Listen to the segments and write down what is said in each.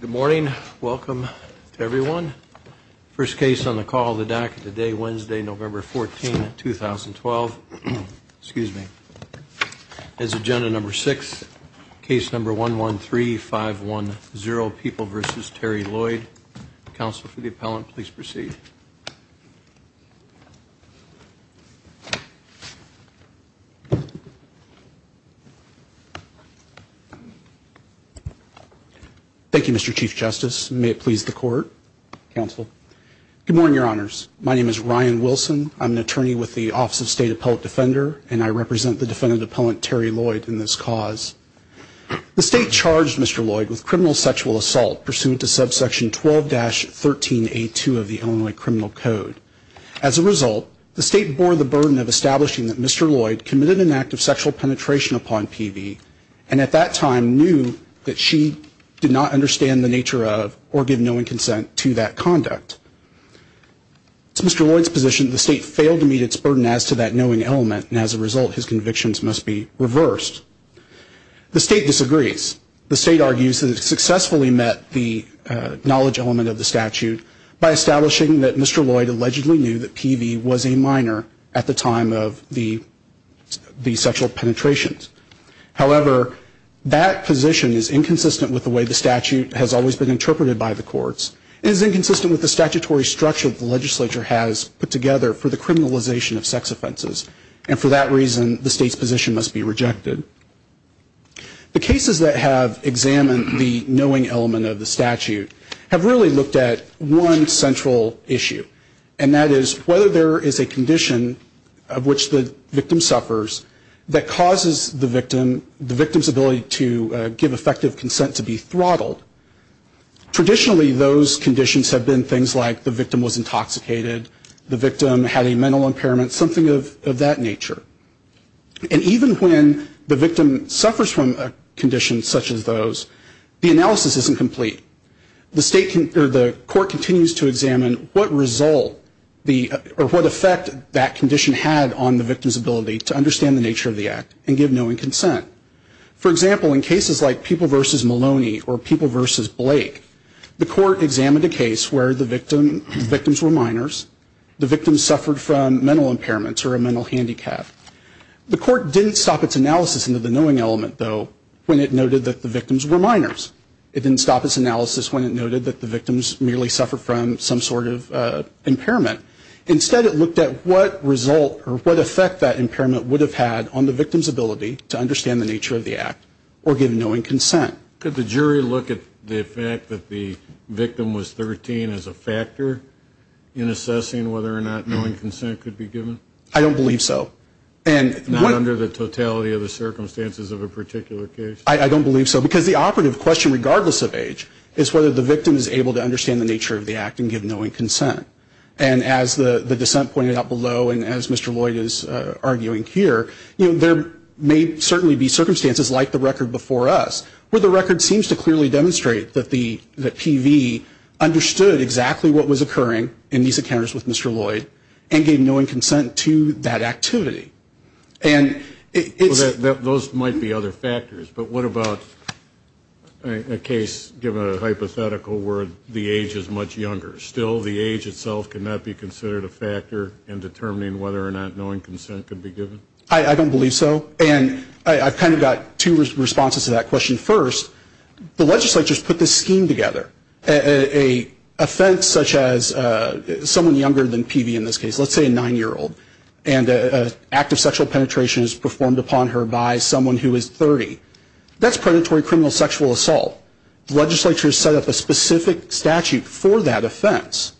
Good morning. Welcome to everyone. First case on the call, the DACA today, Wednesday, November 14, 2012. Excuse me. As agenda number six, case number 113510, People v. Terry Lloyd. Counsel for the appellant, please proceed. Thank you, Mr. Chief Justice. May it please the court. Counsel. Good morning, Your Honors. My name is Ryan Wilson. I'm an attorney with the Office of State Appellate Defender, and I represent the defendant appellant, Terry Lloyd, in this cause. The state charged Mr. Lloyd with criminal sexual assault pursuant to subsection 12-13A2 of the Illinois Criminal Code. As a result, the state bore the burden of establishing that Mr. Lloyd committed an act of sexual penetration upon PV and at that time knew that she did not understand the nature of or give knowing consent to that conduct. To Mr. Lloyd's position, the state failed to meet its burden as to that knowing element, and as a result, his convictions must be reversed. The state disagrees. The state argues that it successfully met the knowledge element of the statute by establishing that Mr. Lloyd allegedly knew that PV was a minor at the time of the sexual penetrations. However, that position is inconsistent with the way the statute has always been interpreted by the courts. It is inconsistent with the statutory structure the legislature has put together for the criminalization of sex offenses, and for that reason, the state's position must be rejected. The cases that have examined the knowing element of the statute have really looked at one central issue, and that is whether there is a condition of which the victim suffers that causes the victim's ability to give effective consent to be throttled. Traditionally, those conditions have been things like the victim was intoxicated, the victim had a mental impairment, something of that nature. And even when the victim suffers from a condition such as those, the analysis isn't complete. The court continues to examine what effect that condition had on the victim's ability to understand the nature of the act and give knowing consent. For example, in cases like People v. Maloney or People v. Blake, the court examined a case where the victims were minors, the victims suffered from mental impairments or a mental handicap. The court didn't stop its analysis into the knowing element, though, when it noted that the victims were minors. It didn't stop its analysis when it noted that the victims merely suffered from some sort of impairment. Instead, it looked at what result or what effect that impairment would have had on the victim's ability to understand the nature of the act or give knowing consent. Could the jury look at the fact that the victim was 13 as a factor in assessing whether or not knowing consent could be given? I don't believe so. Not under the totality of the circumstances of a particular case? I don't believe so, because the operative question, regardless of age, is whether the victim is able to understand the nature of the act and give knowing consent. And as the dissent pointed out below and as Mr. Lloyd is arguing here, there may certainly be circumstances like the record before us, where the record seems to clearly demonstrate that PV understood exactly what was occurring in these encounters with Mr. Lloyd and gave knowing consent to that activity. Those might be other factors. But what about a case, given a hypothetical where the age is much younger? Still, the age itself cannot be considered a factor in determining whether or not knowing consent could be given? I don't believe so. And I've kind of got two responses to that question. First, the legislature has put this scheme together. An offense such as someone younger than PV in this case, let's say a 9-year-old, and an act of sexual penetration is performed upon her by someone who is 30. That's predatory criminal sexual assault. The legislature has set up a specific statute for that offense.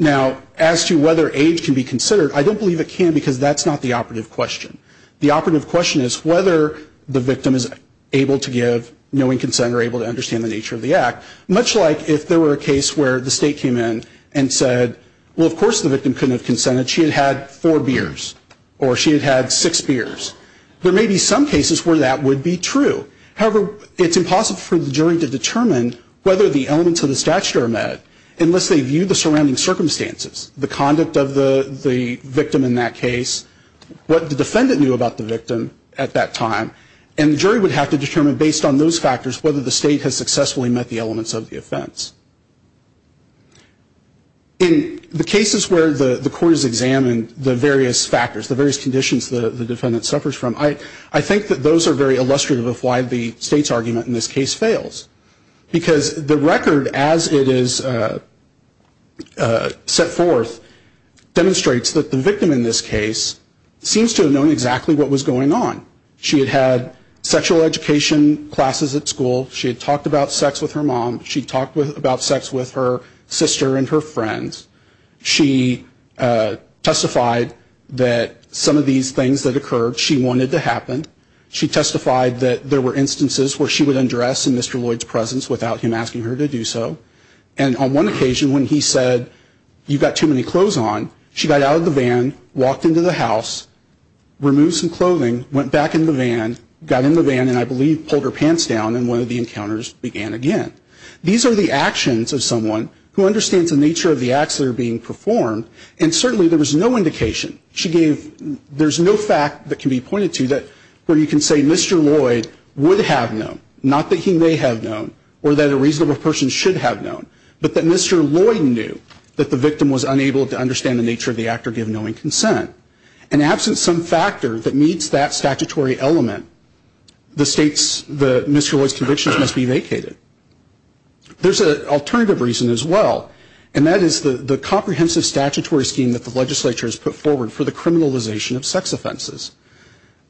Now, as to whether age can be considered, I don't believe it can, because that's not the operative question. The operative question is whether the victim is able to give knowing consent or able to understand the nature of the act, much like if there were a case where the state came in and said, well, of course the victim couldn't have consented. She had had four beers. Or she had had six beers. There may be some cases where that would be true. However, it's impossible for the jury to determine whether the elements of the statute are met unless they view the surrounding circumstances, the conduct of the victim in that case, what the defendant knew about the victim at that time. And the jury would have to determine, based on those factors, whether the state has successfully met the elements of the offense. In the cases where the court has examined the various factors, the various conditions the defendant suffers from, I think that those are very illustrative of why the state's argument in this case fails. Because the record, as it is set forth, demonstrates that the victim in this case seems to have known exactly what was going on. She had had sexual education classes at school. She had talked about sex with her mom. She had talked about sex with her sister and her friends. She testified that some of these things that occurred, she wanted to happen. She testified that there were instances where she would undress in Mr. Lloyd's presence without him asking her to do so. And on one occasion when he said, you've got too many clothes on, she got out of the van, walked into the house, removed some clothing, went back in the van, got in the van and I believe pulled her pants down and one of the encounters began again. These are the actions of someone who understands the nature of the acts that are being performed and certainly there was no indication. She gave, there's no fact that can be pointed to that where you can say Mr. Lloyd would have known, not that he may have known or that a reasonable person should have known, but that Mr. Lloyd knew that the victim was unable to understand the nature of the act or give knowing consent. And absent some factor that meets that statutory element, the state's, the Mr. Lloyd's convictions must be vacated. There's an alternative reason as well and that is the comprehensive statutory scheme that the legislature has put forward for the criminalization of sex offenses.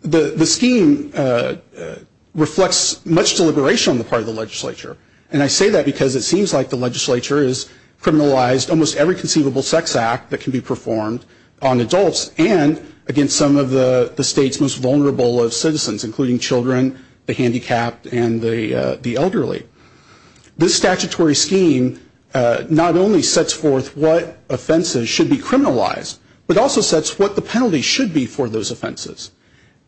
The scheme reflects much deliberation on the part of the legislature and I say that because it seems like the legislature has criminalized almost every conceivable sex act that can be performed on adults and against some of the state's most vulnerable citizens, including children, the handicapped and the elderly. This statutory scheme not only sets forth what offenses should be criminalized, but also sets what the penalty should be for those offenses.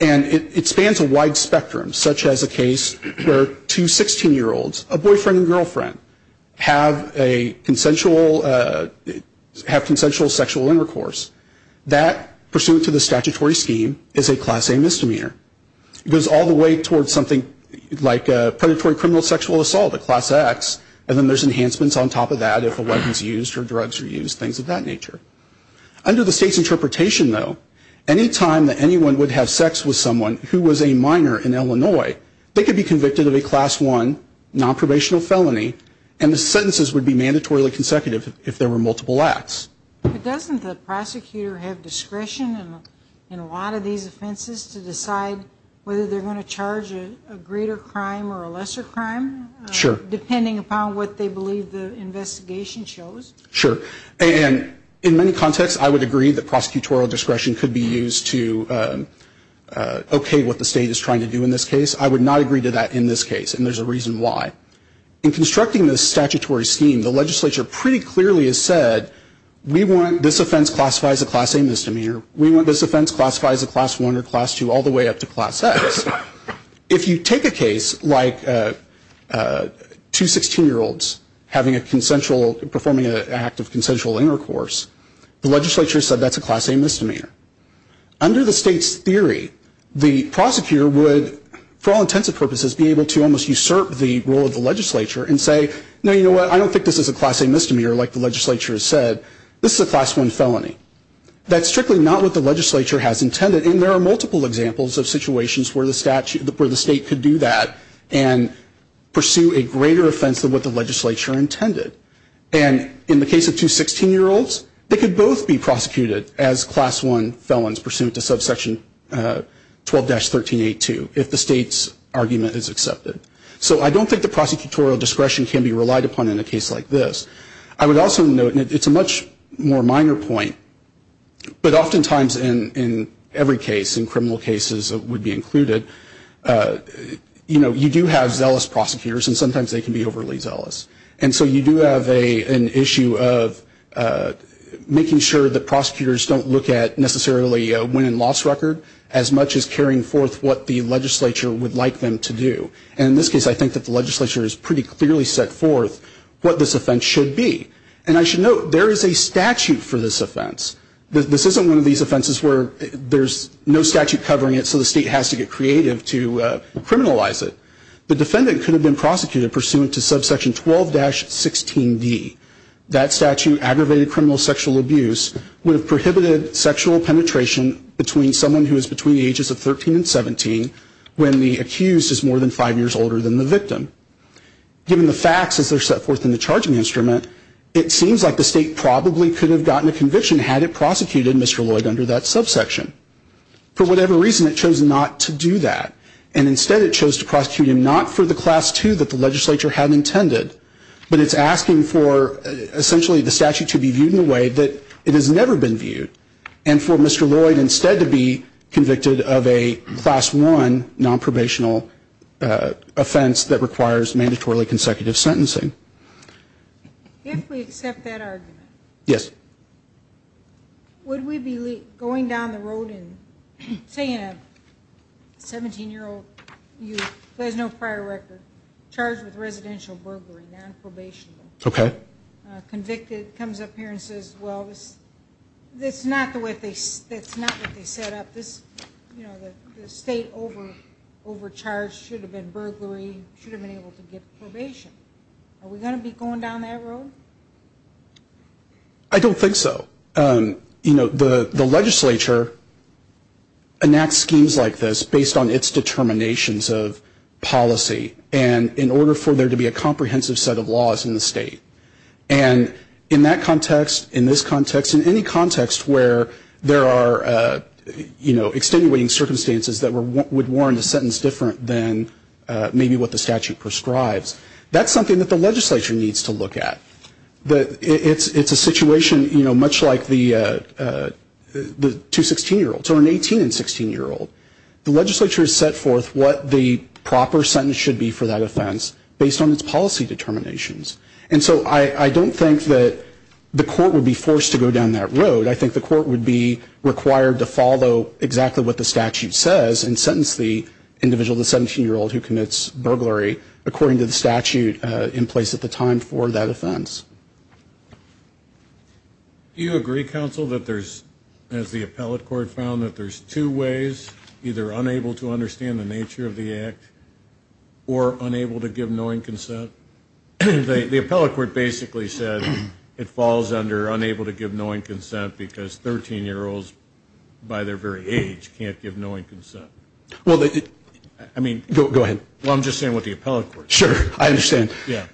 And it spans a wide spectrum, such as a case where two 16-year-olds, a boyfriend and girlfriend, have a consensual, have consensual sexual intercourse. That, pursuant to the statutory scheme, is a Class A misdemeanor. It goes all the way towards something like predatory criminal sexual assault, a Class X, and then there's enhancements on top of that if a weapon is used or drugs are used, things of that nature. Under the state's interpretation though, any time that anyone would have sex with someone who was a minor in Illinois, they could be convicted of a Class I nonprobational felony and the sentences would be mandatorily consecutive if there were multiple acts. But doesn't the prosecutor have discretion in a lot of these offenses to decide whether they're going to charge a greater crime or a lesser crime? Sure. Depending upon what they believe the investigation shows? Sure. And in many contexts, I would agree that prosecutorial discretion could be used to okay what the state is trying to do in this case. I would not agree to that in this case, and there's a reason why. In constructing this statutory scheme, the legislature pretty clearly has said, we want this offense classified as a Class A misdemeanor. We want this offense classified as a Class I or Class II all the way up to Class X. If you take a case like two 16-year-olds having a consensual, performing an act of consensual intercourse, the legislature said that's a Class A misdemeanor. Under the state's theory, the prosecutor would, for all intents and purposes, be able to almost usurp the role of the legislature and say, no, you know what, I don't think this is a Class A misdemeanor like the legislature has said. This is a Class I felony. That's strictly not what the legislature has intended, and there are multiple examples of situations where the state could do that and pursue a greater offense than what the legislature intended. And in the case of two 16-year-olds, they could both be prosecuted as Class I felons pursuant to subsection 12-13A2 if the state's argument is accepted. So I don't think the prosecutorial discretion can be relied upon in a case like this. I would also note, and it's a much more minor point, but oftentimes in every case, in criminal cases that would be included, you know, you do have zealous prosecutors, and sometimes they can be overly zealous. And so you do have an issue of making sure that prosecutors don't look at necessarily a win and loss record as much as carrying forth what the legislature would like them to do. And in this case, I think that the legislature has pretty clearly set forth what this offense should be. And I should note, there is a statute for this offense. This isn't one of these offenses where there's no statute covering it, so the state has to get creative to criminalize it. The defendant could have been prosecuted pursuant to subsection 12-16D. That statute, aggravated criminal sexual abuse, would have prohibited sexual penetration between someone who is between the ages of 13 and 17 when the accused is more than five years older than the victim. Given the facts as they're set forth in the charging instrument, it seems like the state probably could have gotten a conviction had it prosecuted Mr. Lloyd under that subsection. For whatever reason, it chose not to do that. And instead, it chose to prosecute him not for the Class II that the legislature had intended, but it's asking for essentially the statute to be viewed in a way that it has never been viewed and for Mr. Lloyd instead to be convicted of a Class I nonprobational offense that requires mandatorily consecutive sentencing. If we accept that argument... Yes. Would we be going down the road and saying a 17-year-old youth who has no prior record charged with residential burglary, nonprobation? Okay. Convicted, comes up here and says, well, that's not what they set up. You know, the state overcharged, should have been burglary, should have been able to get probation. Are we going to be going down that road? I don't think so. You know, the legislature enacts schemes like this based on its determinations of policy and in order for there to be a comprehensive set of laws in the state. And in that context, in this context, in any context where there are, you know, extenuating circumstances that would warrant a sentence different than maybe what the statute prescribes, that's something that the legislature needs to look at. It's a situation, you know, much like the two 16-year-olds or an 18- and 16-year-old. The legislature has set forth what the proper sentence should be for that offense based on its policy determinations. And so I don't think that the court would be forced to go down that road. I think the court would be required to follow exactly what the statute says and sentence the individual, the 17-year-old who commits burglary, according to the statute in place at the time for that offense. Do you agree, counsel, that there's, as the appellate court found, that there's two ways, either unable to understand the nature of the act or unable to give knowing consent? The appellate court basically said it falls under unable to give knowing consent because 13-year-olds by their very age can't give knowing consent. I mean, go ahead. Well, I'm just saying what the appellate court said. Sure, I understand. Yeah.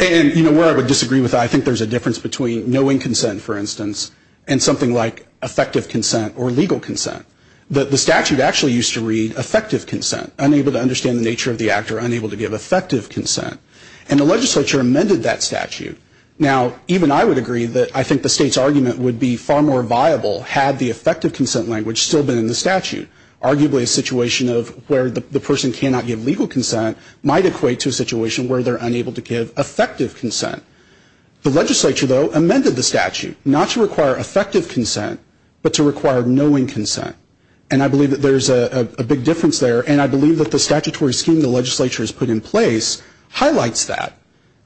And, you know, where I would disagree with that, I think there's a difference between knowing consent, for instance, and something like effective consent or legal consent. The statute actually used to read effective consent, unable to understand the nature of the act or unable to give effective consent. And the legislature amended that statute. Now, even I would agree that I think the state's argument would be far more viable had the effective consent language still been in the statute. Arguably a situation of where the person cannot give legal consent might equate to a situation where they're unable to give effective consent. The legislature, though, amended the statute, not to require effective consent, but to require knowing consent. And I believe that there's a big difference there, and I believe that the statutory scheme the legislature has put in place highlights that.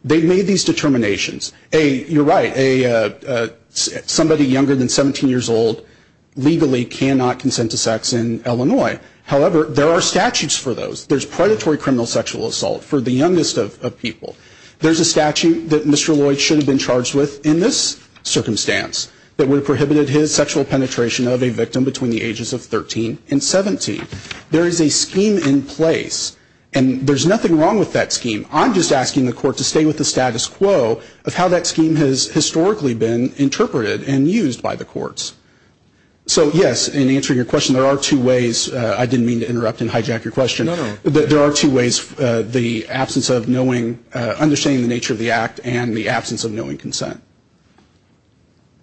They made these determinations. A, you're right, somebody younger than 17 years old legally cannot consent to sex in Illinois. However, there are statutes for those. There's predatory criminal sexual assault for the youngest of people. There's a statute that Mr. Lloyd should have been charged with in this circumstance that would have prohibited his sexual penetration of a victim between the ages of 13 and 17. There is a scheme in place, and there's nothing wrong with that scheme. I'm just asking the court to stay with the status quo of how that scheme has historically been interpreted and used by the courts. So, yes, in answering your question, there are two ways. I didn't mean to interrupt and hijack your question. There are two ways, the absence of knowing, understanding the nature of the act, and the absence of knowing consent.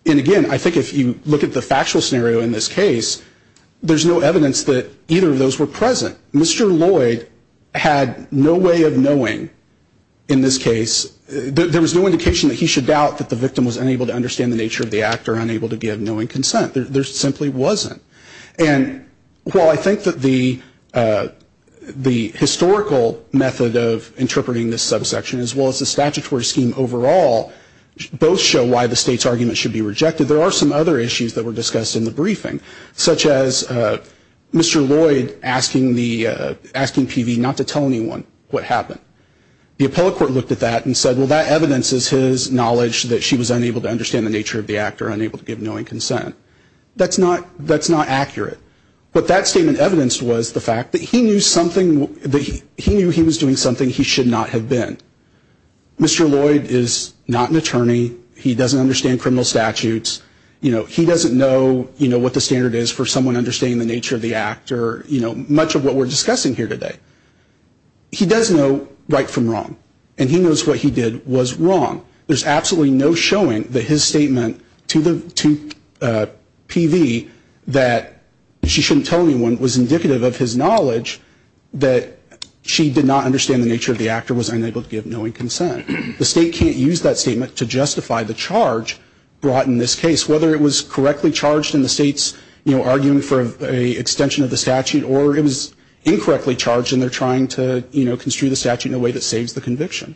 And, again, I think if you look at the factual scenario in this case, there's no evidence that either of those were present. Mr. Lloyd had no way of knowing in this case. There was no indication that he should doubt that the victim was unable to understand the nature of the act or unable to give knowing consent. There simply wasn't. And while I think that the historical method of interpreting this subsection, as well as the statutory scheme overall, both show why the state's argument should be rejected, there are some other issues that were discussed in the briefing, such as Mr. Lloyd asking PV not to tell anyone what happened. The appellate court looked at that and said, well, that evidences his knowledge that she was unable to understand the nature of the act or unable to give knowing consent. That's not accurate. What that statement evidenced was the fact that he knew he was doing something he should not have been. Mr. Lloyd is not an attorney. He doesn't understand criminal statutes. He doesn't know what the standard is for someone understanding the nature of the act or much of what we're discussing here today. He does know right from wrong, and he knows what he did was wrong. There's absolutely no showing that his statement to PV that she shouldn't tell anyone was indicative of his knowledge that she did not understand the nature of the act or was unable to give knowing consent. The state can't use that statement to justify the charge brought in this case, whether it was correctly charged in the state's arguing for an extension of the statute or it was incorrectly charged and they're trying to construe the statute in a way that saves the conviction.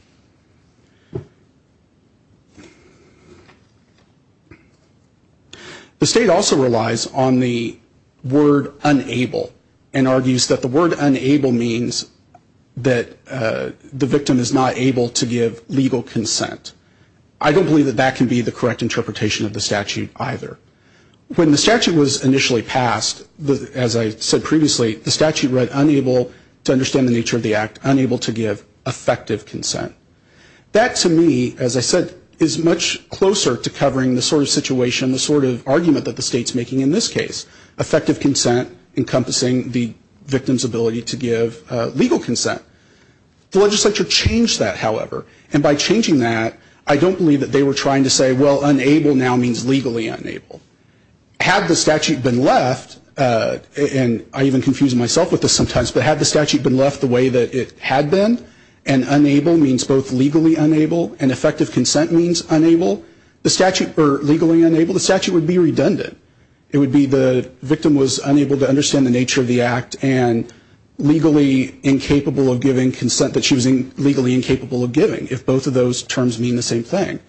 The state also relies on the word unable and argues that the word unable means that the victim is not able to give legal consent. I don't believe that that can be the correct interpretation of the statute either. When the statute was initially passed, as I said previously, the statute read unable to understand the nature of the act, unable to give effective consent. That, to me, as I said, is much closer to covering the sort of situation, the sort of argument that the state's making in this case. Effective consent encompassing the victim's ability to give legal consent. The legislature changed that, however, and by changing that, I don't believe that they were trying to say, well, unable now means legally unable. Had the statute been left, and I even confuse myself with this sometimes, but had the statute been left the way that it had been, and unable means both legally unable and effective consent means unable, the statute would be redundant. It would be the victim was unable to understand the nature of the act and legally incapable of giving consent that she was legally incapable of giving, if both of those terms mean the same thing.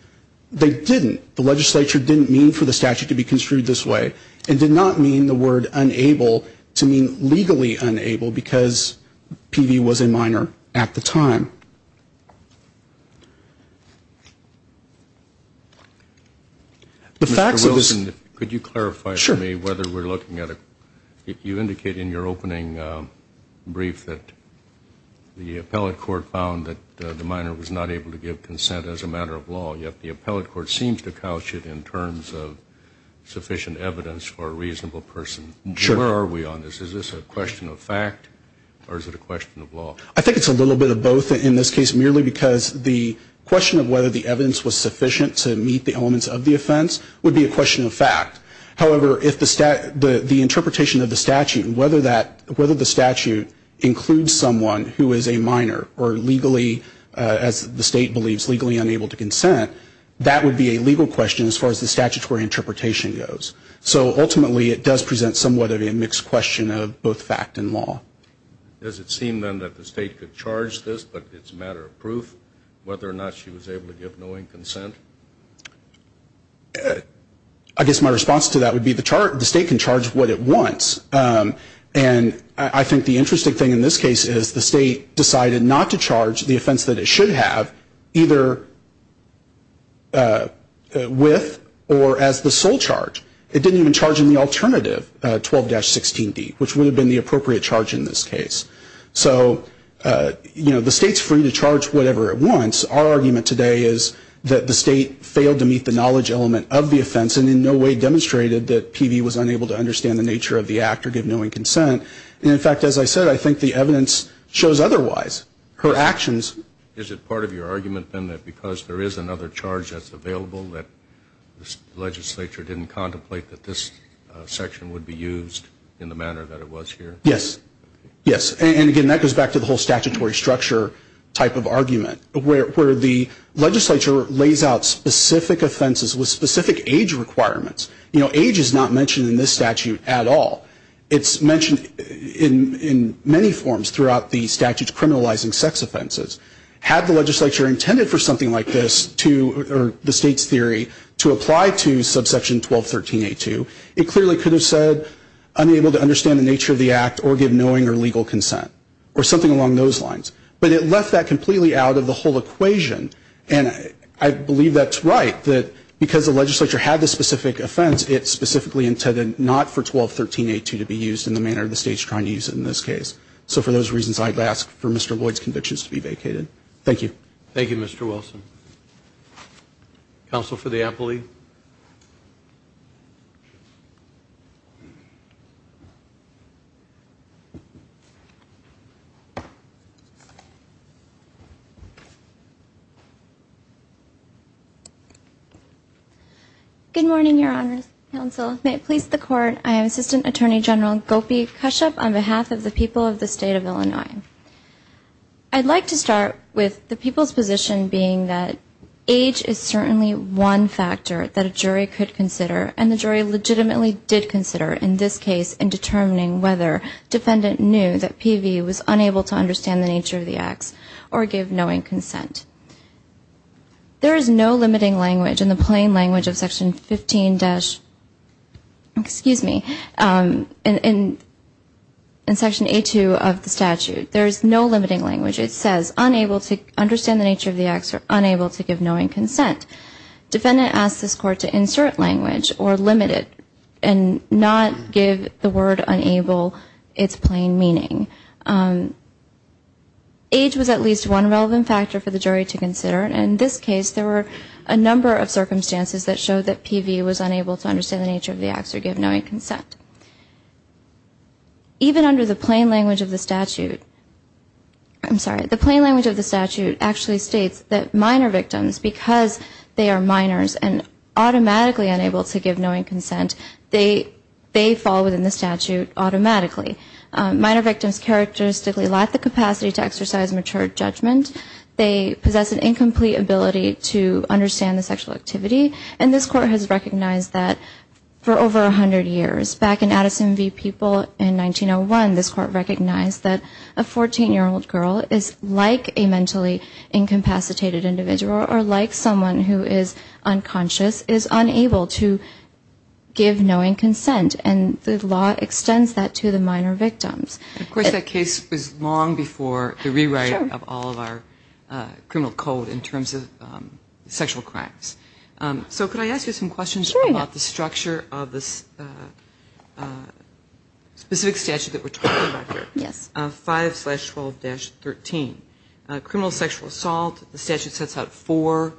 They didn't. The legislature didn't mean for the statute to be construed this way. It did not mean the word unable to mean legally unable because PV was a minor at the time. Mr. Wilson, could you clarify for me whether we're looking at a, you indicated in your opening brief that the appellate court found that the minor was not able to give consent as a matter of law, yet the appellate court seems to couch it in terms of sufficient evidence for a reasonable person. Sure. Where are we on this? Is this a question of fact, or is it a question of law? I think it's a little bit of both in this case, merely because the question of whether the evidence was sufficient to meet the elements of the offense would be a question of fact. However, if the interpretation of the statute, whether the statute includes someone who is a minor or legally, as the state believes, legally unable to consent, that would be a legal question as far as the statutory interpretation goes. So ultimately it does present somewhat of a mixed question of both fact and law. Does it seem then that the state could charge this, but it's a matter of proof, whether or not she was able to give knowing consent? I guess my response to that would be the state can charge what it wants, and I think the interesting thing in this case is the state decided not to charge the offense that it should have, either with or as the sole charge. It didn't even charge in the alternative 12-16D, which would have been the appropriate charge in this case. So, you know, the state's free to charge whatever it wants. Our argument today is that the state failed to meet the knowledge element of the offense and in no way demonstrated that PV was unable to understand the nature of the act or give knowing consent. And, in fact, as I said, I think the evidence shows otherwise. Her actions – Is it part of your argument then that because there is another charge that's available that the legislature didn't contemplate that this section would be used in the manner that it was here? Yes. Yes. And, again, that goes back to the whole statutory structure type of argument, where the legislature lays out specific offenses with specific age requirements. You know, age is not mentioned in this statute at all. It's mentioned in many forms throughout the statute criminalizing sex offenses. Had the legislature intended for something like this to – or the state's theory to apply to subsection 12-13A2, it clearly could have said unable to understand the nature of the act or give knowing or legal consent or something along those lines. But it left that completely out of the whole equation. And I believe that's right, that because the legislature had this specific offense, it specifically intended not for 12-13A2 to be used in the manner the state's trying to use it in this case. So for those reasons, I'd ask for Mr. Boyd's convictions to be vacated. Thank you. Thank you, Mr. Wilson. Counsel for the appellee. Good morning, Your Honors. Counsel, may it please the Court, I am Assistant Attorney General Gopi Kashyap on behalf of the people of the State of Illinois. I'd like to start with the people's position being that age is certainly one factor that a jury could consider, and the jury legitimately did consider in this case in determining whether defendant knew that PV was unable to understand the nature of the acts or give knowing consent. There is no limiting language in the plain language of Section 15-, excuse me, in Section A2 of the statute. There is no limiting language. It says unable to understand the nature of the acts or unable to give knowing consent. Defendant asked this Court to insert language or limit it and not give the word unable its plain meaning. Age was at least one relevant factor for the jury to consider, and in this case there were a number of circumstances that showed that PV was unable to understand the nature of the acts or give knowing consent. Even under the plain language of the statute, I'm sorry, the plain language of the statute actually states that minor victims, because they are minors and automatically unable to give knowing consent, they fall within the statute automatically. Minor victims characteristically lack the capacity to exercise mature judgment. They possess an incomplete ability to understand the sexual activity, and this Court has recognized that for over 100 years. Back in Addison v. People in 1901, this Court recognized that a 14-year-old girl is like a mentally incapacitated individual or like someone who is unconscious, is unable to give knowing consent, and the law extends that to the minor victims. Of course, that case was long before the rewrite of all of our criminal code in terms of sexual crimes. So could I ask you some questions about the structure of the specific statute that we're talking about here? Yes. 5-12-13. Criminal sexual assault, the statute sets out four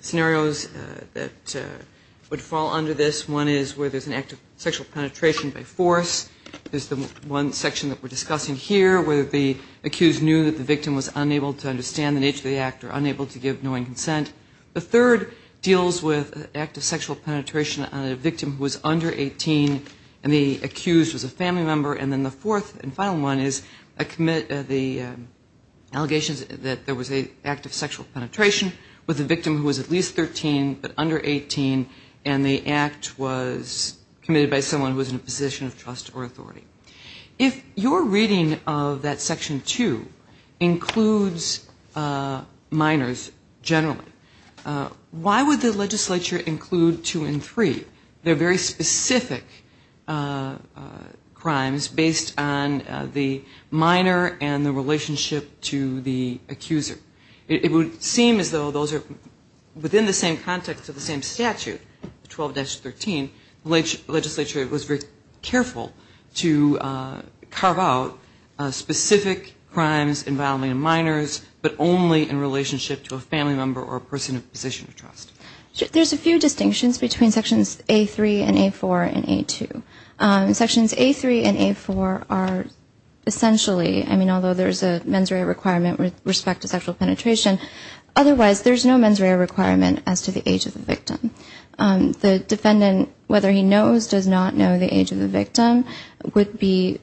scenarios that would fall under this. One is where there's an act of sexual penetration by force, is the one section that we're discussing here, where the accused knew that the victim was unable to understand the nature of the act or unable to give knowing consent. The third deals with an act of sexual penetration on a victim who was under 18 and the accused was a family member. And then the fourth and final one is the allegations that there was an act of sexual penetration with a victim who was at least 13 but under 18, and the act was committed by someone who was in a position of trust or authority. If your reading of that section two includes minors generally, why would the legislature include two and three? They're very specific crimes based on the minor and the relationship to the accuser. It would seem as though those are within the same context of the same statute, 12-13, the legislature was very careful to carve out specific crimes involving minors but only in relationship to a family member or a person in a position of trust. There's a few distinctions between sections A3 and A4 and A2. Sections A3 and A4 are essentially, I mean, although there's a mens rea requirement with respect to sexual penetration, otherwise there's no mens rea requirement as to the age of the victim. The defendant, whether he knows, does not know the age of the victim, could be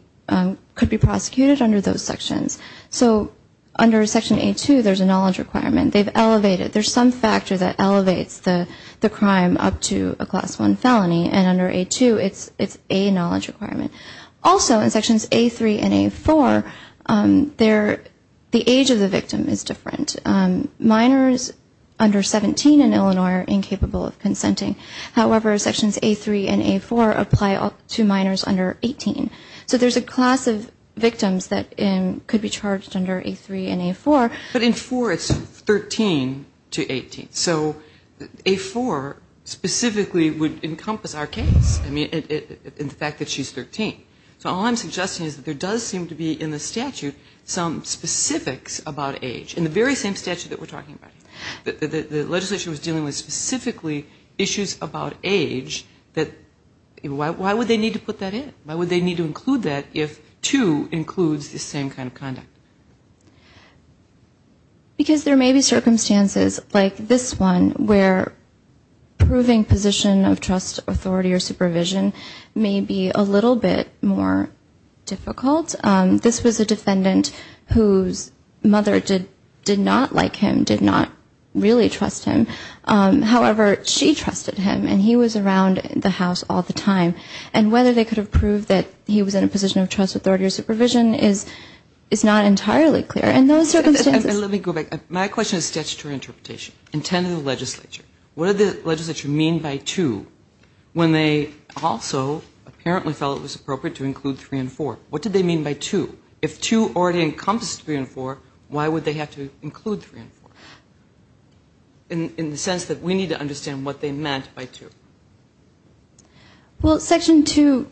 prosecuted under those sections. So under section A2 there's a knowledge requirement. They've elevated, there's some factor that elevates the crime up to a class one felony, and under A2 it's a knowledge requirement. Also in sections A3 and A4 the age of the victim is different. Minors under 17 in Illinois are incapable of consenting. However, sections A3 and A4 apply to minors under 18. So there's a class of victims that could be charged under A3 and A4. But in four it's 13 to 18. So A4 specifically would encompass our case in the fact that she's 13. So all I'm suggesting is that there does seem to be in the statute some specifics about age. In the very same statute that we're talking about, the legislation was dealing with specifically issues about age, that why would they need to put that in? Why would they need to include that if two includes the same kind of conduct? Because there may be circumstances like this one where proving position of trust, authority or supervision may be a little bit more difficult. This was a defendant whose mother did not like him, did not really trust him. However, she trusted him and he was around the house all the time. And whether they could have proved that he was in a position of trust, authority or supervision is not entirely clear. And those circumstances. And let me go back. My question is statutory interpretation intended to the legislature. What did the legislature mean by two when they also apparently felt it was appropriate to include three and four? What did they mean by two? If two already encompasses three and four, why would they have to include three and four? In the sense that we need to understand what they meant by two. Well, section two,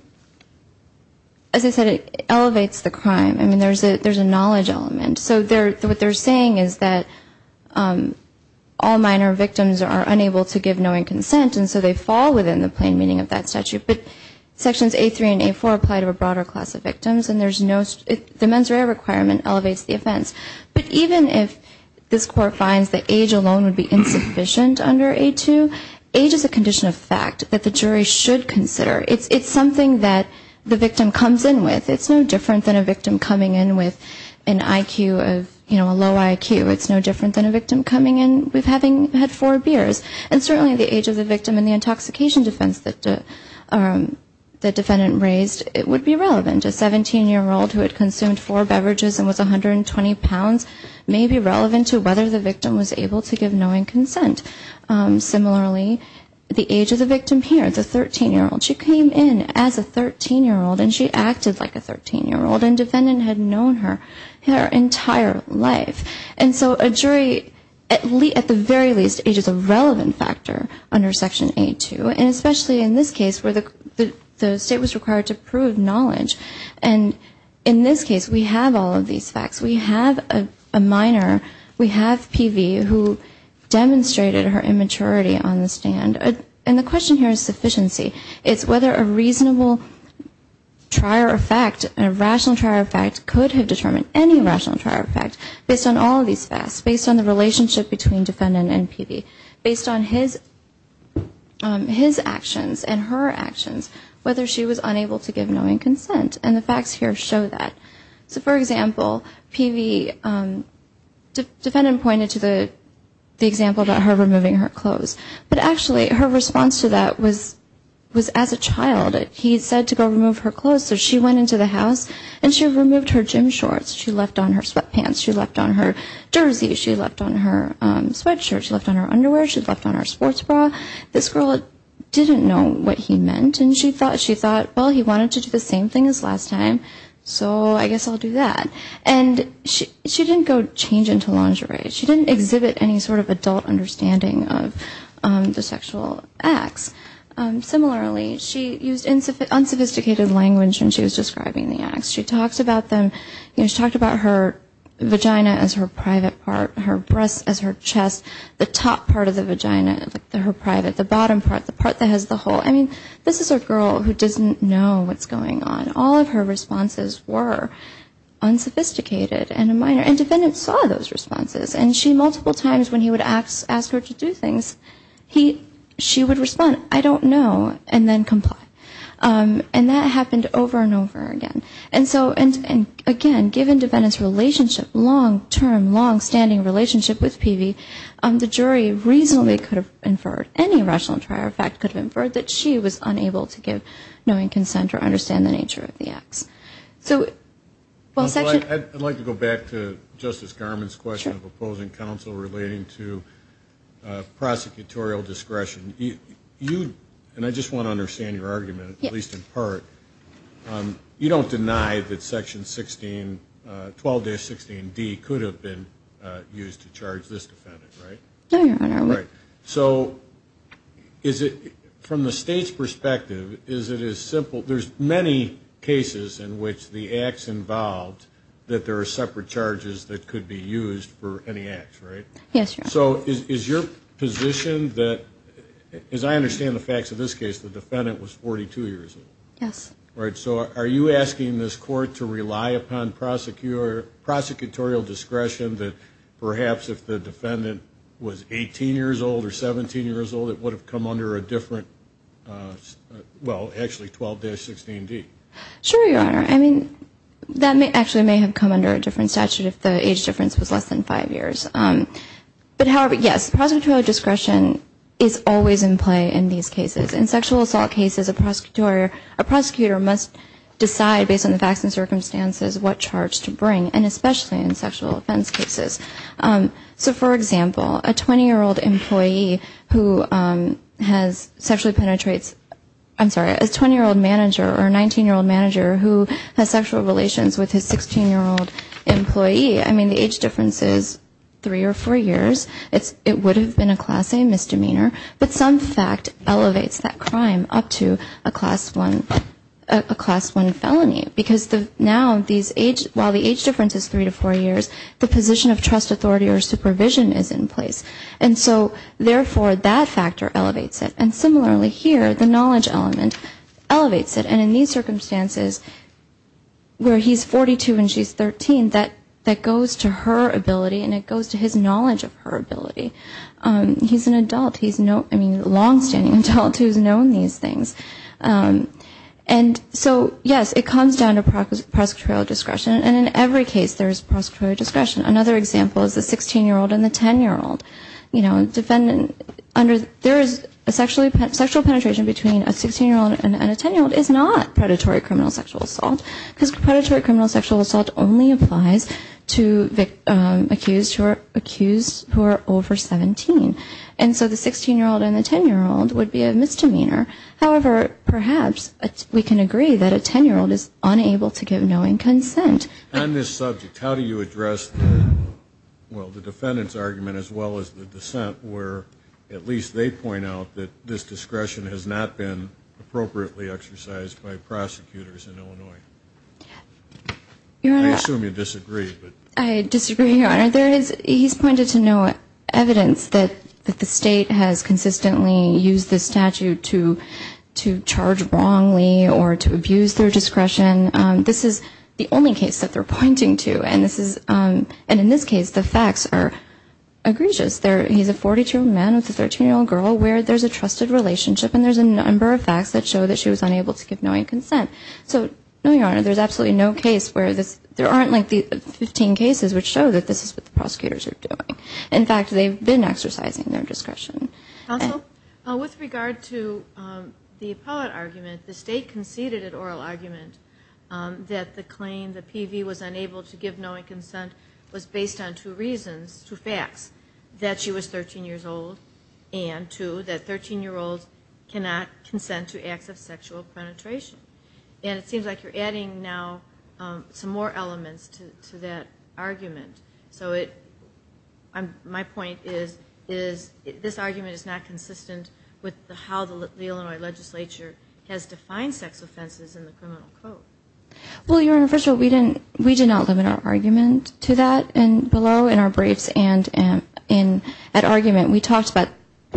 as I said, it elevates the crime. I mean, there's a knowledge element. So what they're saying is that all minor victims are unable to give knowing consent and so they fall within the plain meaning of that statute. But sections A3 and A4 apply to a broader class of victims and there's no, the mens rea requirement elevates the offense. But even if this court finds that age alone would be insufficient under A2, age is a condition of fact. That the jury should consider. It's something that the victim comes in with. It's no different than a victim coming in with an IQ of, you know, a low IQ. It's no different than a victim coming in with having had four beers. And certainly the age of the victim and the intoxication defense that the defendant raised, it would be relevant. A 17-year-old who had consumed four beverages and was 120 pounds may be relevant to whether the victim was able to give knowing consent. Similarly, the age of the victim here, the 13-year-old, she came in as a 13-year-old and she acted like a 13-year-old. And defendant had known her her entire life. And so a jury, at the very least, age is a relevant factor under section A2. And especially in this case where the state was required to prove knowledge. And in this case, we have all of these facts. We have a minor, we have PV, who demonstrated her immaturity on the stand. And the question here is sufficiency. It's whether a reasonable trier of fact, a rational trier of fact, could have determined any rational trier of fact based on all of these facts. Based on the relationship between defendant and PV. Based on his actions and her actions, whether she was unable to give knowing consent. And the facts here show that. So for example, PV, defendant pointed to the example about her removing her clothes. But actually, her response to that was as a child, he said to go remove her clothes. So she went into the house and she removed her gym shorts, she left on her sweatpants, she left on her jersey, she left on her sweatshirt, she left on her underwear, she left on her sports bra. This girl didn't know what he meant. And she thought, well, he wanted to do the same thing as last time, so I guess I'll do that. And she didn't go change into lingerie, she didn't exhibit any sort of adult understanding of the sexual acts. Similarly, she used unsophisticated language when she was describing the acts. She talked about her vagina as her private part, her breasts as her chest, the top part of the vagina, her private, the bottom part, the part that has the hole. I mean, this is a girl who doesn't know what's going on. All of her responses were unsophisticated and minor. And defendants saw those responses. And she multiple times when he would ask her to do things, she would respond, I don't know, and then comply. And that happened over and over again. And so, again, given defendants' relationship, long-term, long-standing relationship with Peavey, the jury reasonably could have inferred, any rational trial fact could have inferred, that she was unable to give knowing consent or understand the nature of the acts. I'd like to go back to Justice Garmon's question of opposing counsel relating to prosecutorial discretion. And I just want to understand your argument, at least in part. You don't deny that Section 12-16D could have been used to charge this defendant, right? No, Your Honor. So from the State's perspective, is it as simple? There's many cases in which the acts involved that there are separate charges that could be used for any acts, right? Yes, Your Honor. So is your position that, as I understand the facts of this case, the defendant was 42 years old? Yes. All right, so are you asking this Court to rely upon prosecutorial discretion that perhaps if the defendant was 18 years old or 17 years old, it would have come under a different, well, actually 12-16D? Sure, Your Honor. I mean, that actually may have come under a different statute if the age difference was less than five years. But, however, yes, prosecutorial discretion is always in play in these cases. In sexual assault cases, a prosecutor must decide based on the facts and circumstances what charge to bring, and especially in sexual offense cases. So, for example, a 20-year-old employee who has sexually penetrates, I'm sorry, a 20-year-old manager or a 19-year-old manager who has sexual relations with his 16-year-old employee, I mean, the age difference is three or four years. It would have been a Class A misdemeanor, but some fact elevates that crime up to a Class 1 felony. Because now these age, while the age difference is three to four years, the position of trust authority or supervision is in place. And so, therefore, that factor elevates it. And similarly here, the knowledge element elevates it. And in these circumstances, where he's 42 and she's 13, that goes to her ability and it goes to his knowledge of her ability. He's an adult. He's a longstanding adult who's known these things. And so, yes, it comes down to prosecutorial discretion, and in every case there is prosecutorial discretion. Another example is the 16-year-old and the 10-year-old. There is a sexual penetration between a 16-year-old and a 10-year-old is not predatory criminal sexual assault, because predatory criminal sexual assault only applies to accused who are over 17. And so the 16-year-old and the 10-year-old would be a misdemeanor. However, perhaps we can agree that a 10-year-old is unable to give knowing consent. On this subject, how do you address, well, the defendant's argument as well as the dissent, where at least they point out that this discretion has not been appropriately exercised by prosecutors in Illinois? I assume you disagree. I disagree, Your Honor. He's pointed to no evidence that the state has consistently used this statute to charge wrongly or to abuse their discretion. This is the only case that they're pointing to, and in this case the facts are egregious. He's a 42-year-old man with a 13-year-old girl where there's a trusted relationship, and there's a number of facts that show that she was unable to give knowing consent. So, no, Your Honor, there's absolutely no case where this, there aren't like the 15 cases which show that this is what the prosecutors are doing. In fact, they've been exercising their discretion. Counsel? With regard to the appellate argument, the state conceded an oral argument that the claim that PV was unable to give knowing consent was based on two reasons, two facts. That she was 13 years old, and two, that 13-year-olds cannot consent to acts of sexual penetration. And it seems like you're adding now some more elements to that argument. So it, my point is, is this argument is not consistent with how the Illinois legislature has defined sex offenses in the criminal code. Well, Your Honor, first of all, we did not limit our argument to that below in our briefs, and at argument we talked about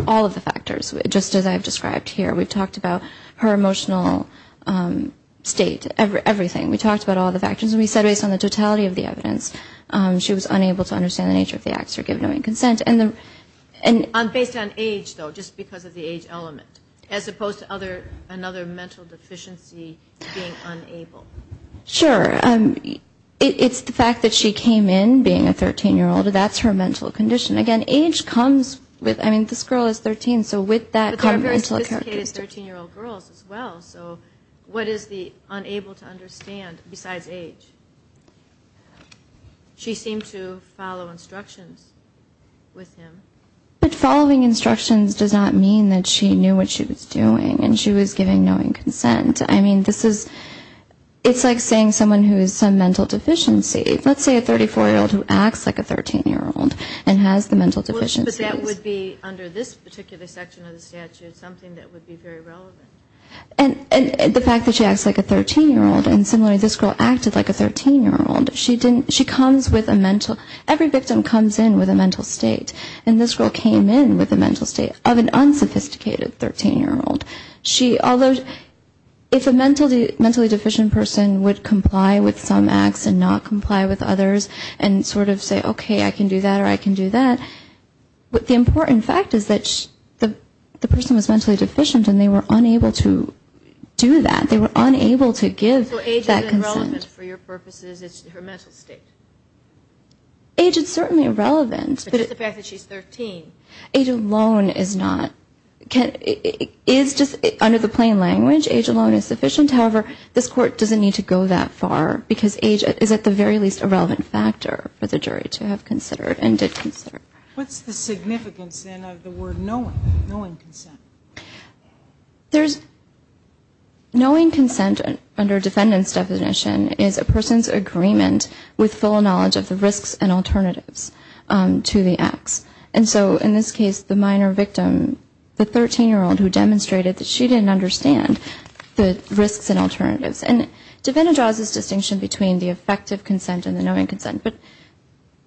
all of the factors, just as I've described here. We've talked about her emotional state, everything. We talked about all the factors, and we said based on the totality of the evidence, she was unable to understand the nature of the acts of giving knowing consent. And based on age, though, just because of the age element, as opposed to other, another mental deficiency being unable. Sure. It's the fact that she came in being a 13-year-old, that's her mental condition. Again, age comes with, I mean, this girl is 13, so with that common mental characteristic. But there are very sophisticated 13-year-old girls as well, so what is the unable to understand, besides age? She seemed to follow instructions with him. But following instructions does not mean that she knew what she was doing, and she was giving knowing consent. I mean, this is, it's like saying someone who is some mental deficiency, let's say a 34-year-old who acts like a 13-year-old and has the ability to consent, that's the mental deficiency. But that would be, under this particular section of the statute, something that would be very relevant. And the fact that she acts like a 13-year-old, and similarly this girl acted like a 13-year-old, she comes with a mental, every victim comes in with a mental state. And this girl came in with a mental state of an unsophisticated 13-year-old. She, although, if a mentally deficient person would comply with some acts and not comply with others and sort of say, okay, I can do that or I can do that, the important fact is that the person was mentally deficient and they were unable to do that. They were unable to give that consent. So age is irrelevant for your purposes, it's her mental state. Age is certainly relevant. But it's the fact that she's 13. Age alone is not, is just, under the plain language, age alone is sufficient. However, this Court doesn't need to go that far because age is at the very least a relevant factor for the jury to have considered and did consider. What's the significance, then, of the word knowing, knowing consent? There's, knowing consent under defendant's definition is a person's agreement with full knowledge of the risks and alternatives to the acts. And so in this case, the minor victim, the 13-year-old who demonstrated that she didn't understand the risks and alternatives. And defendant draws this distinction between the effective consent and the knowing consent. But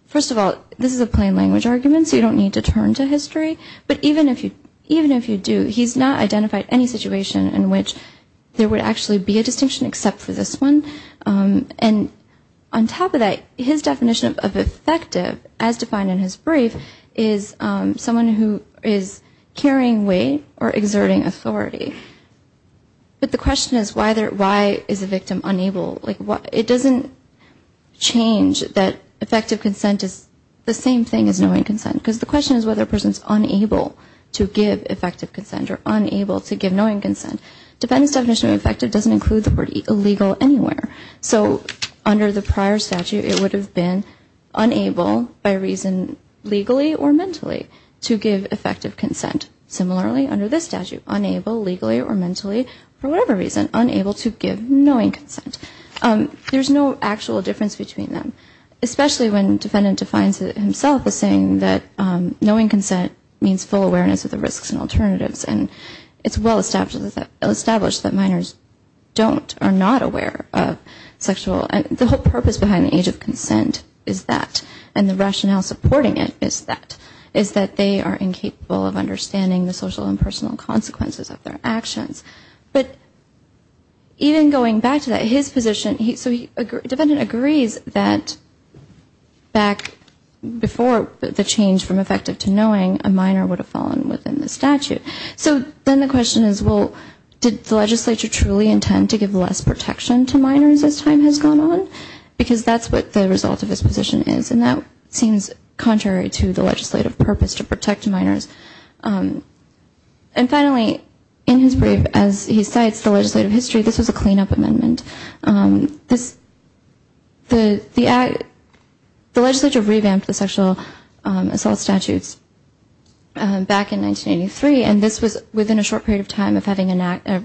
first of all, this is a plain language argument, so you don't need to turn to history. But even if you do, he's not identified any situation in which there would actually be a distinction except for this one. And on top of that, his definition of effective, as defined in his brief, is someone who is carrying weight or exerting authority. But the question is why is the victim unable? It doesn't change that effective consent is the same thing as knowing consent. Because the question is whether a person is unable to give effective consent or unable to give knowing consent. Defendant's definition of effective doesn't include the word illegal anywhere. So under the prior statute, it would have been unable by reason legally or mentally to give effective consent. Similarly, under this statute, unable legally or mentally for whatever reason, unable to give knowing consent. There's no actual difference between them, especially when defendant defines it himself as saying that knowing consent means full awareness of the risks and alternatives. And it's well established that minors don't or are not aware of sexual, the whole purpose behind the age of consent is that. And the rationale supporting it is that, is that they are incapable of understanding the social and personal consequences of their actions. But even going back to that, his position, so defendant agrees that back before the change from effective to knowing, a minor would have fallen within the statute. So then the question is, well, did the legislature truly intend to give less protection to minors as time has gone on? Because that's what the result of his position is, and that seems contrary to the legislative purpose to protect minors. And finally, in his brief, as he cites the legislative history, this was a clean-up amendment. The legislature revamped the sexual assault statutes back in 1983, and this was a clean-up amendment. And it was within a short period of time of having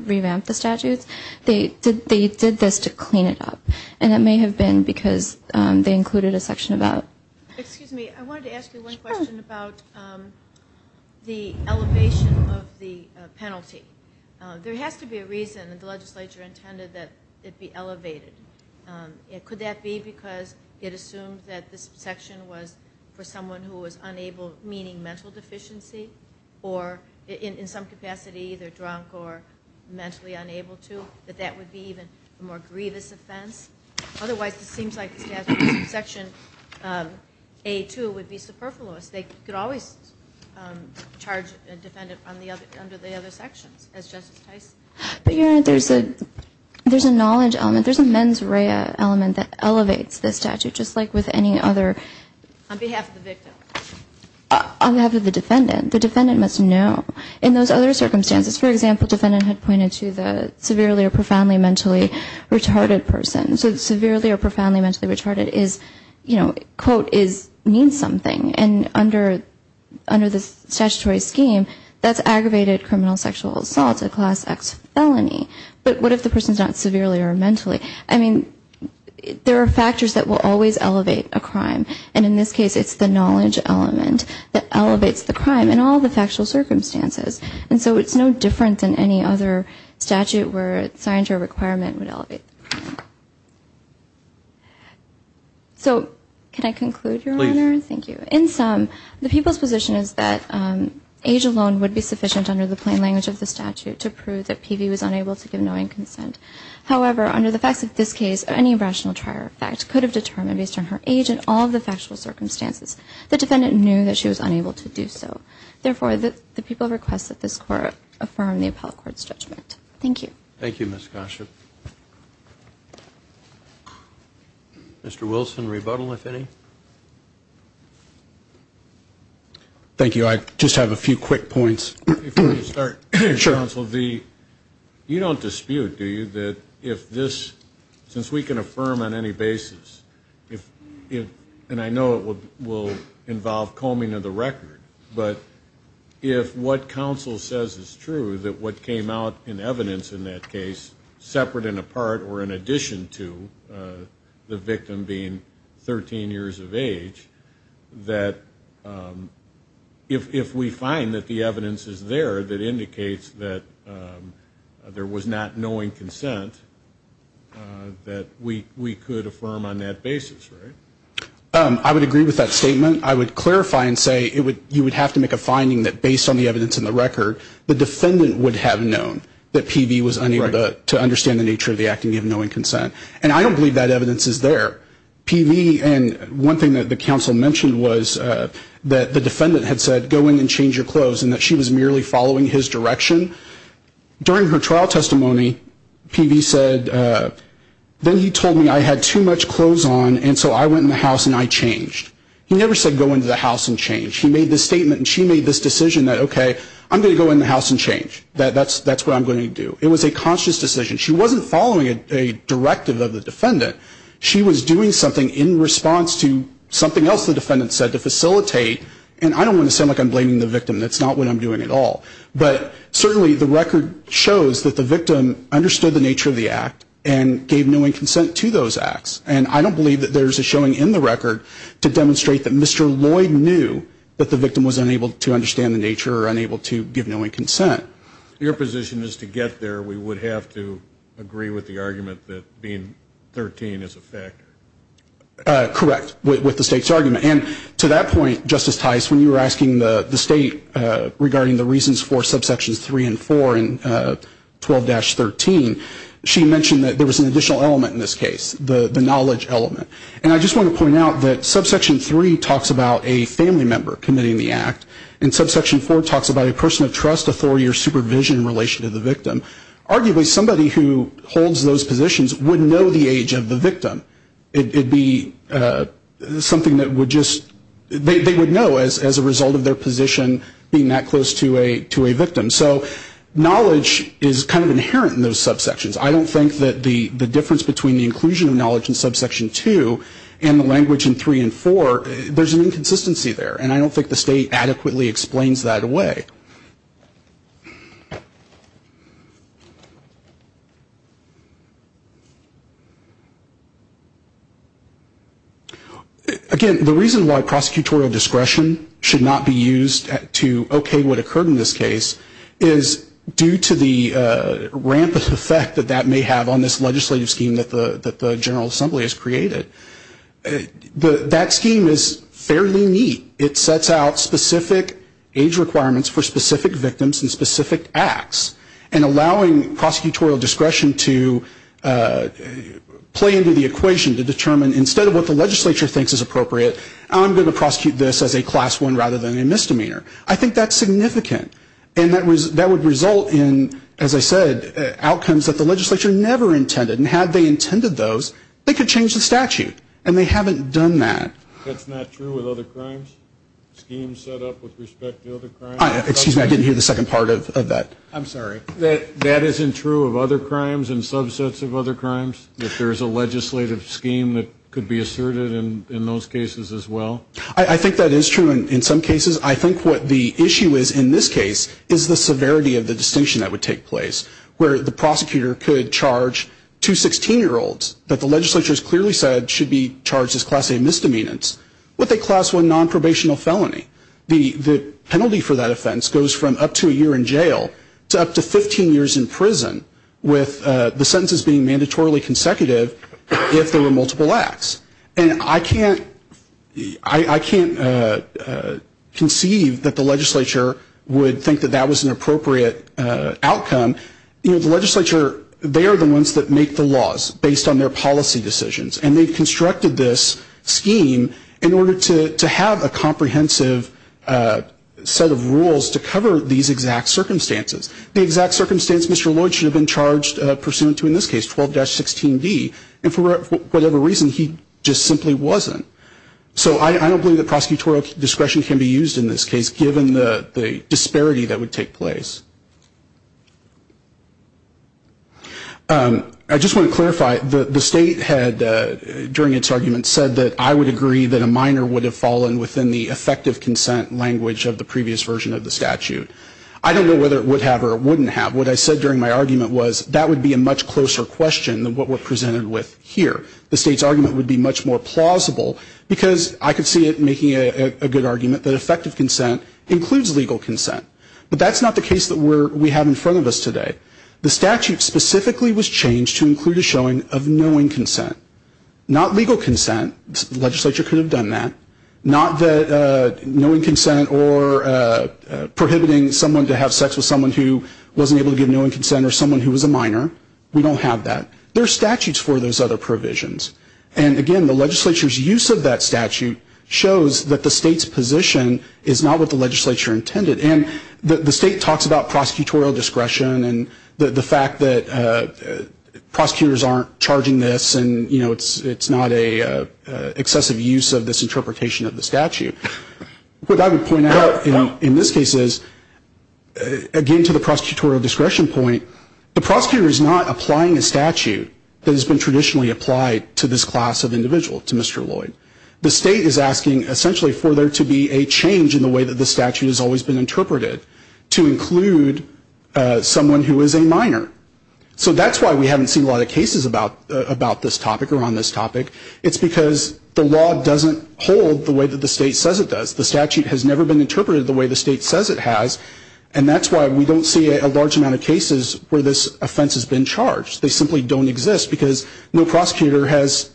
revamped the statutes, they did this to clean it up. And it may have been because they included a section about... Excuse me, I wanted to ask you one question about the elevation of the penalty. There has to be a reason that the legislature intended that it be elevated. Could that be because it assumed that this section was for someone who was unable, meaning mental deficiency? Or, in some capacity, either drunk or mentally unable to? That that would be even a more grievous offense? Otherwise, it seems like the statute section A-2 would be superfluous. They could always charge a defendant under the other sections, as Justice Tyson said. But, Your Honor, there's a knowledge element, there's a mens rea element that elevates this statute, just like with any other... The defendant must know. In those other circumstances, for example, the defendant had pointed to the severely or profoundly mentally retarded person. So severely or profoundly mentally retarded is, you know, quote, means something. And under the statutory scheme, that's aggravated criminal sexual assault, a Class X felony. But what if the person's not severely or mentally... I mean, there are factors that will always elevate a crime. And in this case, it's the knowledge element that elevates the crime in all the factual circumstances. And so it's no different than any other statute where it's signed to a requirement would elevate the crime. So can I conclude, Your Honor? Please. Your Honor, thank you. In sum, the people's position is that age alone would be sufficient under the plain language of the statute to prove that Peavy was unable to give knowing consent. However, under the facts of this case, any rational trier effect could have determined, based on her age and all the factual circumstances, the defendant knew that she was unable to do so. Therefore, the people request that this Court affirm the appellate court's judgment. Thank you. Thank you, Ms. Gosher. Mr. Wilson, rebuttal, if any. Thank you. I just have a few quick points. Before we start, Mr. Counsel, you don't dispute, do you, that if this, since we can affirm on any basis, and I know it will involve combing of the record, but if what counsel says is true, that what came out in evidence in that case, separate and apart or in addition to the victim being 13 years of age, that if we find that the evidence is there that indicates that there was not knowing consent, that we could affirm on that basis, right? I would agree with that statement. I would clarify and say you would have to make a finding that, based on the evidence in the record, the defendant would have known that P.V. was unable to understand the nature of the acting of knowing consent. And I don't believe that evidence is there. P.V. and one thing that the counsel mentioned was that the defendant had said go in and change your clothes and that she was merely following his direction. During her trial testimony, P.V. said, then he told me I had too much clothes on, and so I went in the house and I changed. He never said go into the house and change. He made this statement and she made this decision that, okay, I'm going to go in the house and change. That's what I'm going to do. It was a conscious decision. She was doing something in response to something else the defendant said to facilitate, and I don't want to sound like I'm blaming the victim. That's not what I'm doing at all. But certainly the record shows that the victim understood the nature of the act and gave knowing consent to those acts. And I don't believe that there's a showing in the record to demonstrate that Mr. Lloyd knew that the victim was unable to understand the nature or unable to give knowing consent. If your position is to get there, we would have to agree with the argument that being 13 is a factor. Correct, with the state's argument. And to that point, Justice Tice, when you were asking the state regarding the reasons for subsections 3 and 4 and 12-13, she mentioned that there was an additional element in this case, the knowledge element. And I just want to point out that subsection 3 talks about a family member committing the act, and subsection 4 talks about a person of trust, authority, or supervision in relation to the victim. Arguably somebody who holds those positions would know the age of the victim. It would be something that would just they would know as a result of their position being that close to a victim. So knowledge is kind of inherent in those subsections. I don't think that the difference between the inclusion of knowledge in subsection 2 and the language in 3 and 4, there's an inconsistency there, and I don't think the state adequately explains that away. Again, the reason why prosecutorial discretion should not be used to okay what occurred in this case is due to the rampant effect that that may have on this legislative scheme that the General Assembly has created. That scheme is fairly neat. It sets out specific age requirements for specific victims and specific acts, and allowing prosecutorial discretion to play into the equation to determine instead of what the legislature thinks is appropriate, I'm going to prosecute this as a class 1 rather than a misdemeanor. I think that's significant. And that would result in, as I said, outcomes that the legislature never intended, and had they intended those, they could change the statute, and they haven't done that. That's not true with other crimes? Schemes set up with respect to other crimes? Excuse me, I didn't hear the second part of that. I'm sorry. That isn't true of other crimes and subsets of other crimes? If there's a legislative scheme that could be asserted in those cases as well? I think that is true in some cases. I think what the issue is in this case is the severity of the distinction that would take place, where the prosecutor could charge two 16-year-olds that the legislature has clearly said should be charged as class A misdemeanors with a class 1 nonprobational felony. The penalty for that offense goes from up to a year in jail to up to 15 years in prison, with the sentences being mandatorily consecutive if there were multiple acts. And I can't conceive that the legislature would think that that was an appropriate outcome. You know, the legislature, they are the ones that make the laws based on their policy decisions, and they've constructed this scheme in order to have a comprehensive set of rules to cover these exact circumstances. The exact circumstance Mr. Lloyd should have been charged pursuant to in this case, 12-16D, and for whatever reason he just simply wasn't. So I don't believe that prosecutorial discretion can be used in this case, given the disparity that would take place. I just want to clarify, the state had, during its argument, said that I would agree that a minor would have fallen within the effective consent language of the previous version of the statute. I don't know whether it would have or it wouldn't have. What I said during my argument was that would be a much closer question than what we're presented with here. The state's argument would be much more plausible, because I could see it making a good argument that effective consent includes legal consent. But that's not the case that we have in front of us today. The statute specifically was changed to include a showing of knowing consent, not legal consent. The legislature could have done that. Not that knowing consent or prohibiting someone to have sex with someone who wasn't able to give knowing consent or someone who was a minor. We don't have that. There are statutes for those other provisions. And, again, the legislature's use of that statute shows that the state's position is not what the legislature intended. And the state talks about prosecutorial discretion and the fact that prosecutors aren't charging this and it's not an excessive use of this interpretation of the statute. What I would point out in this case is, again, to the prosecutorial discretion point, the prosecutor is not applying a statute that has been traditionally applied to this class of individual, to Mr. Lloyd. The state is asking essentially for there to be a change in the way that the statute has always been interpreted to include someone who is a minor. So that's why we haven't seen a lot of cases about this topic or on this topic. It's because the law doesn't hold the way that the state says it does. The statute has never been interpreted the way the state says it has. And that's why we don't see a large amount of cases where this offense has been charged. They simply don't exist because no prosecutor has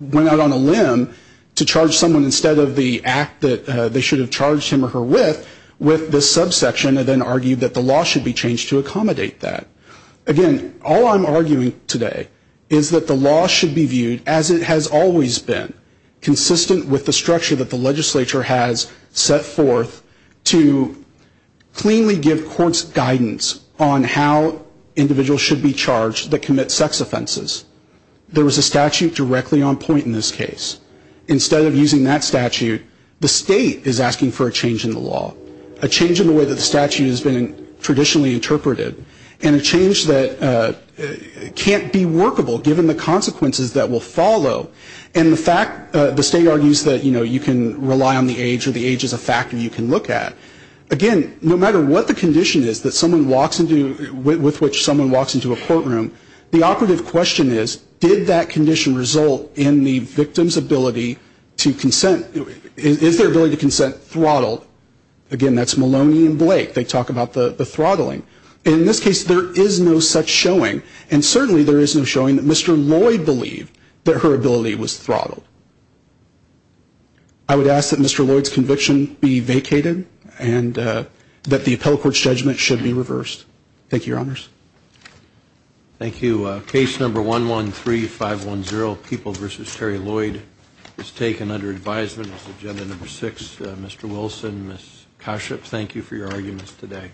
went out on a limb to charge someone instead of the act that they should have charged him or her with with this subsection and then argued that the law should be changed to accommodate that. Again, all I'm arguing today is that the law should be viewed as it has always been, consistent with the structure that the legislature has set forth to cleanly give courts guidance on how individuals should be charged that commit sex offenses. There was a statute directly on point in this case. Instead of using that statute, the state is asking for a change in the law, a change in the way that the statute has been traditionally interpreted, and a change that can't be workable given the consequences that will follow. And the fact, the state argues that, you know, you can rely on the age or the age is a factor you can look at. Again, no matter what the condition is that someone walks into, with which someone walks into a courtroom, the operative question is, did that condition result in the victim's ability to consent? Is their ability to consent throttled? Again, that's Maloney and Blake. They talk about the throttling. In this case, there is no such showing, and certainly there is no showing that Mr. Lloyd believed that her ability was throttled. I would ask that Mr. Lloyd's conviction be vacated and that the appellate court's judgment should be reversed. Thank you, Your Honors. Thank you. Case number 113510, People v. Terry Lloyd, is taken under advisement as agenda number six. Mr. Wilson, Ms. Koshyp, thank you for your arguments today.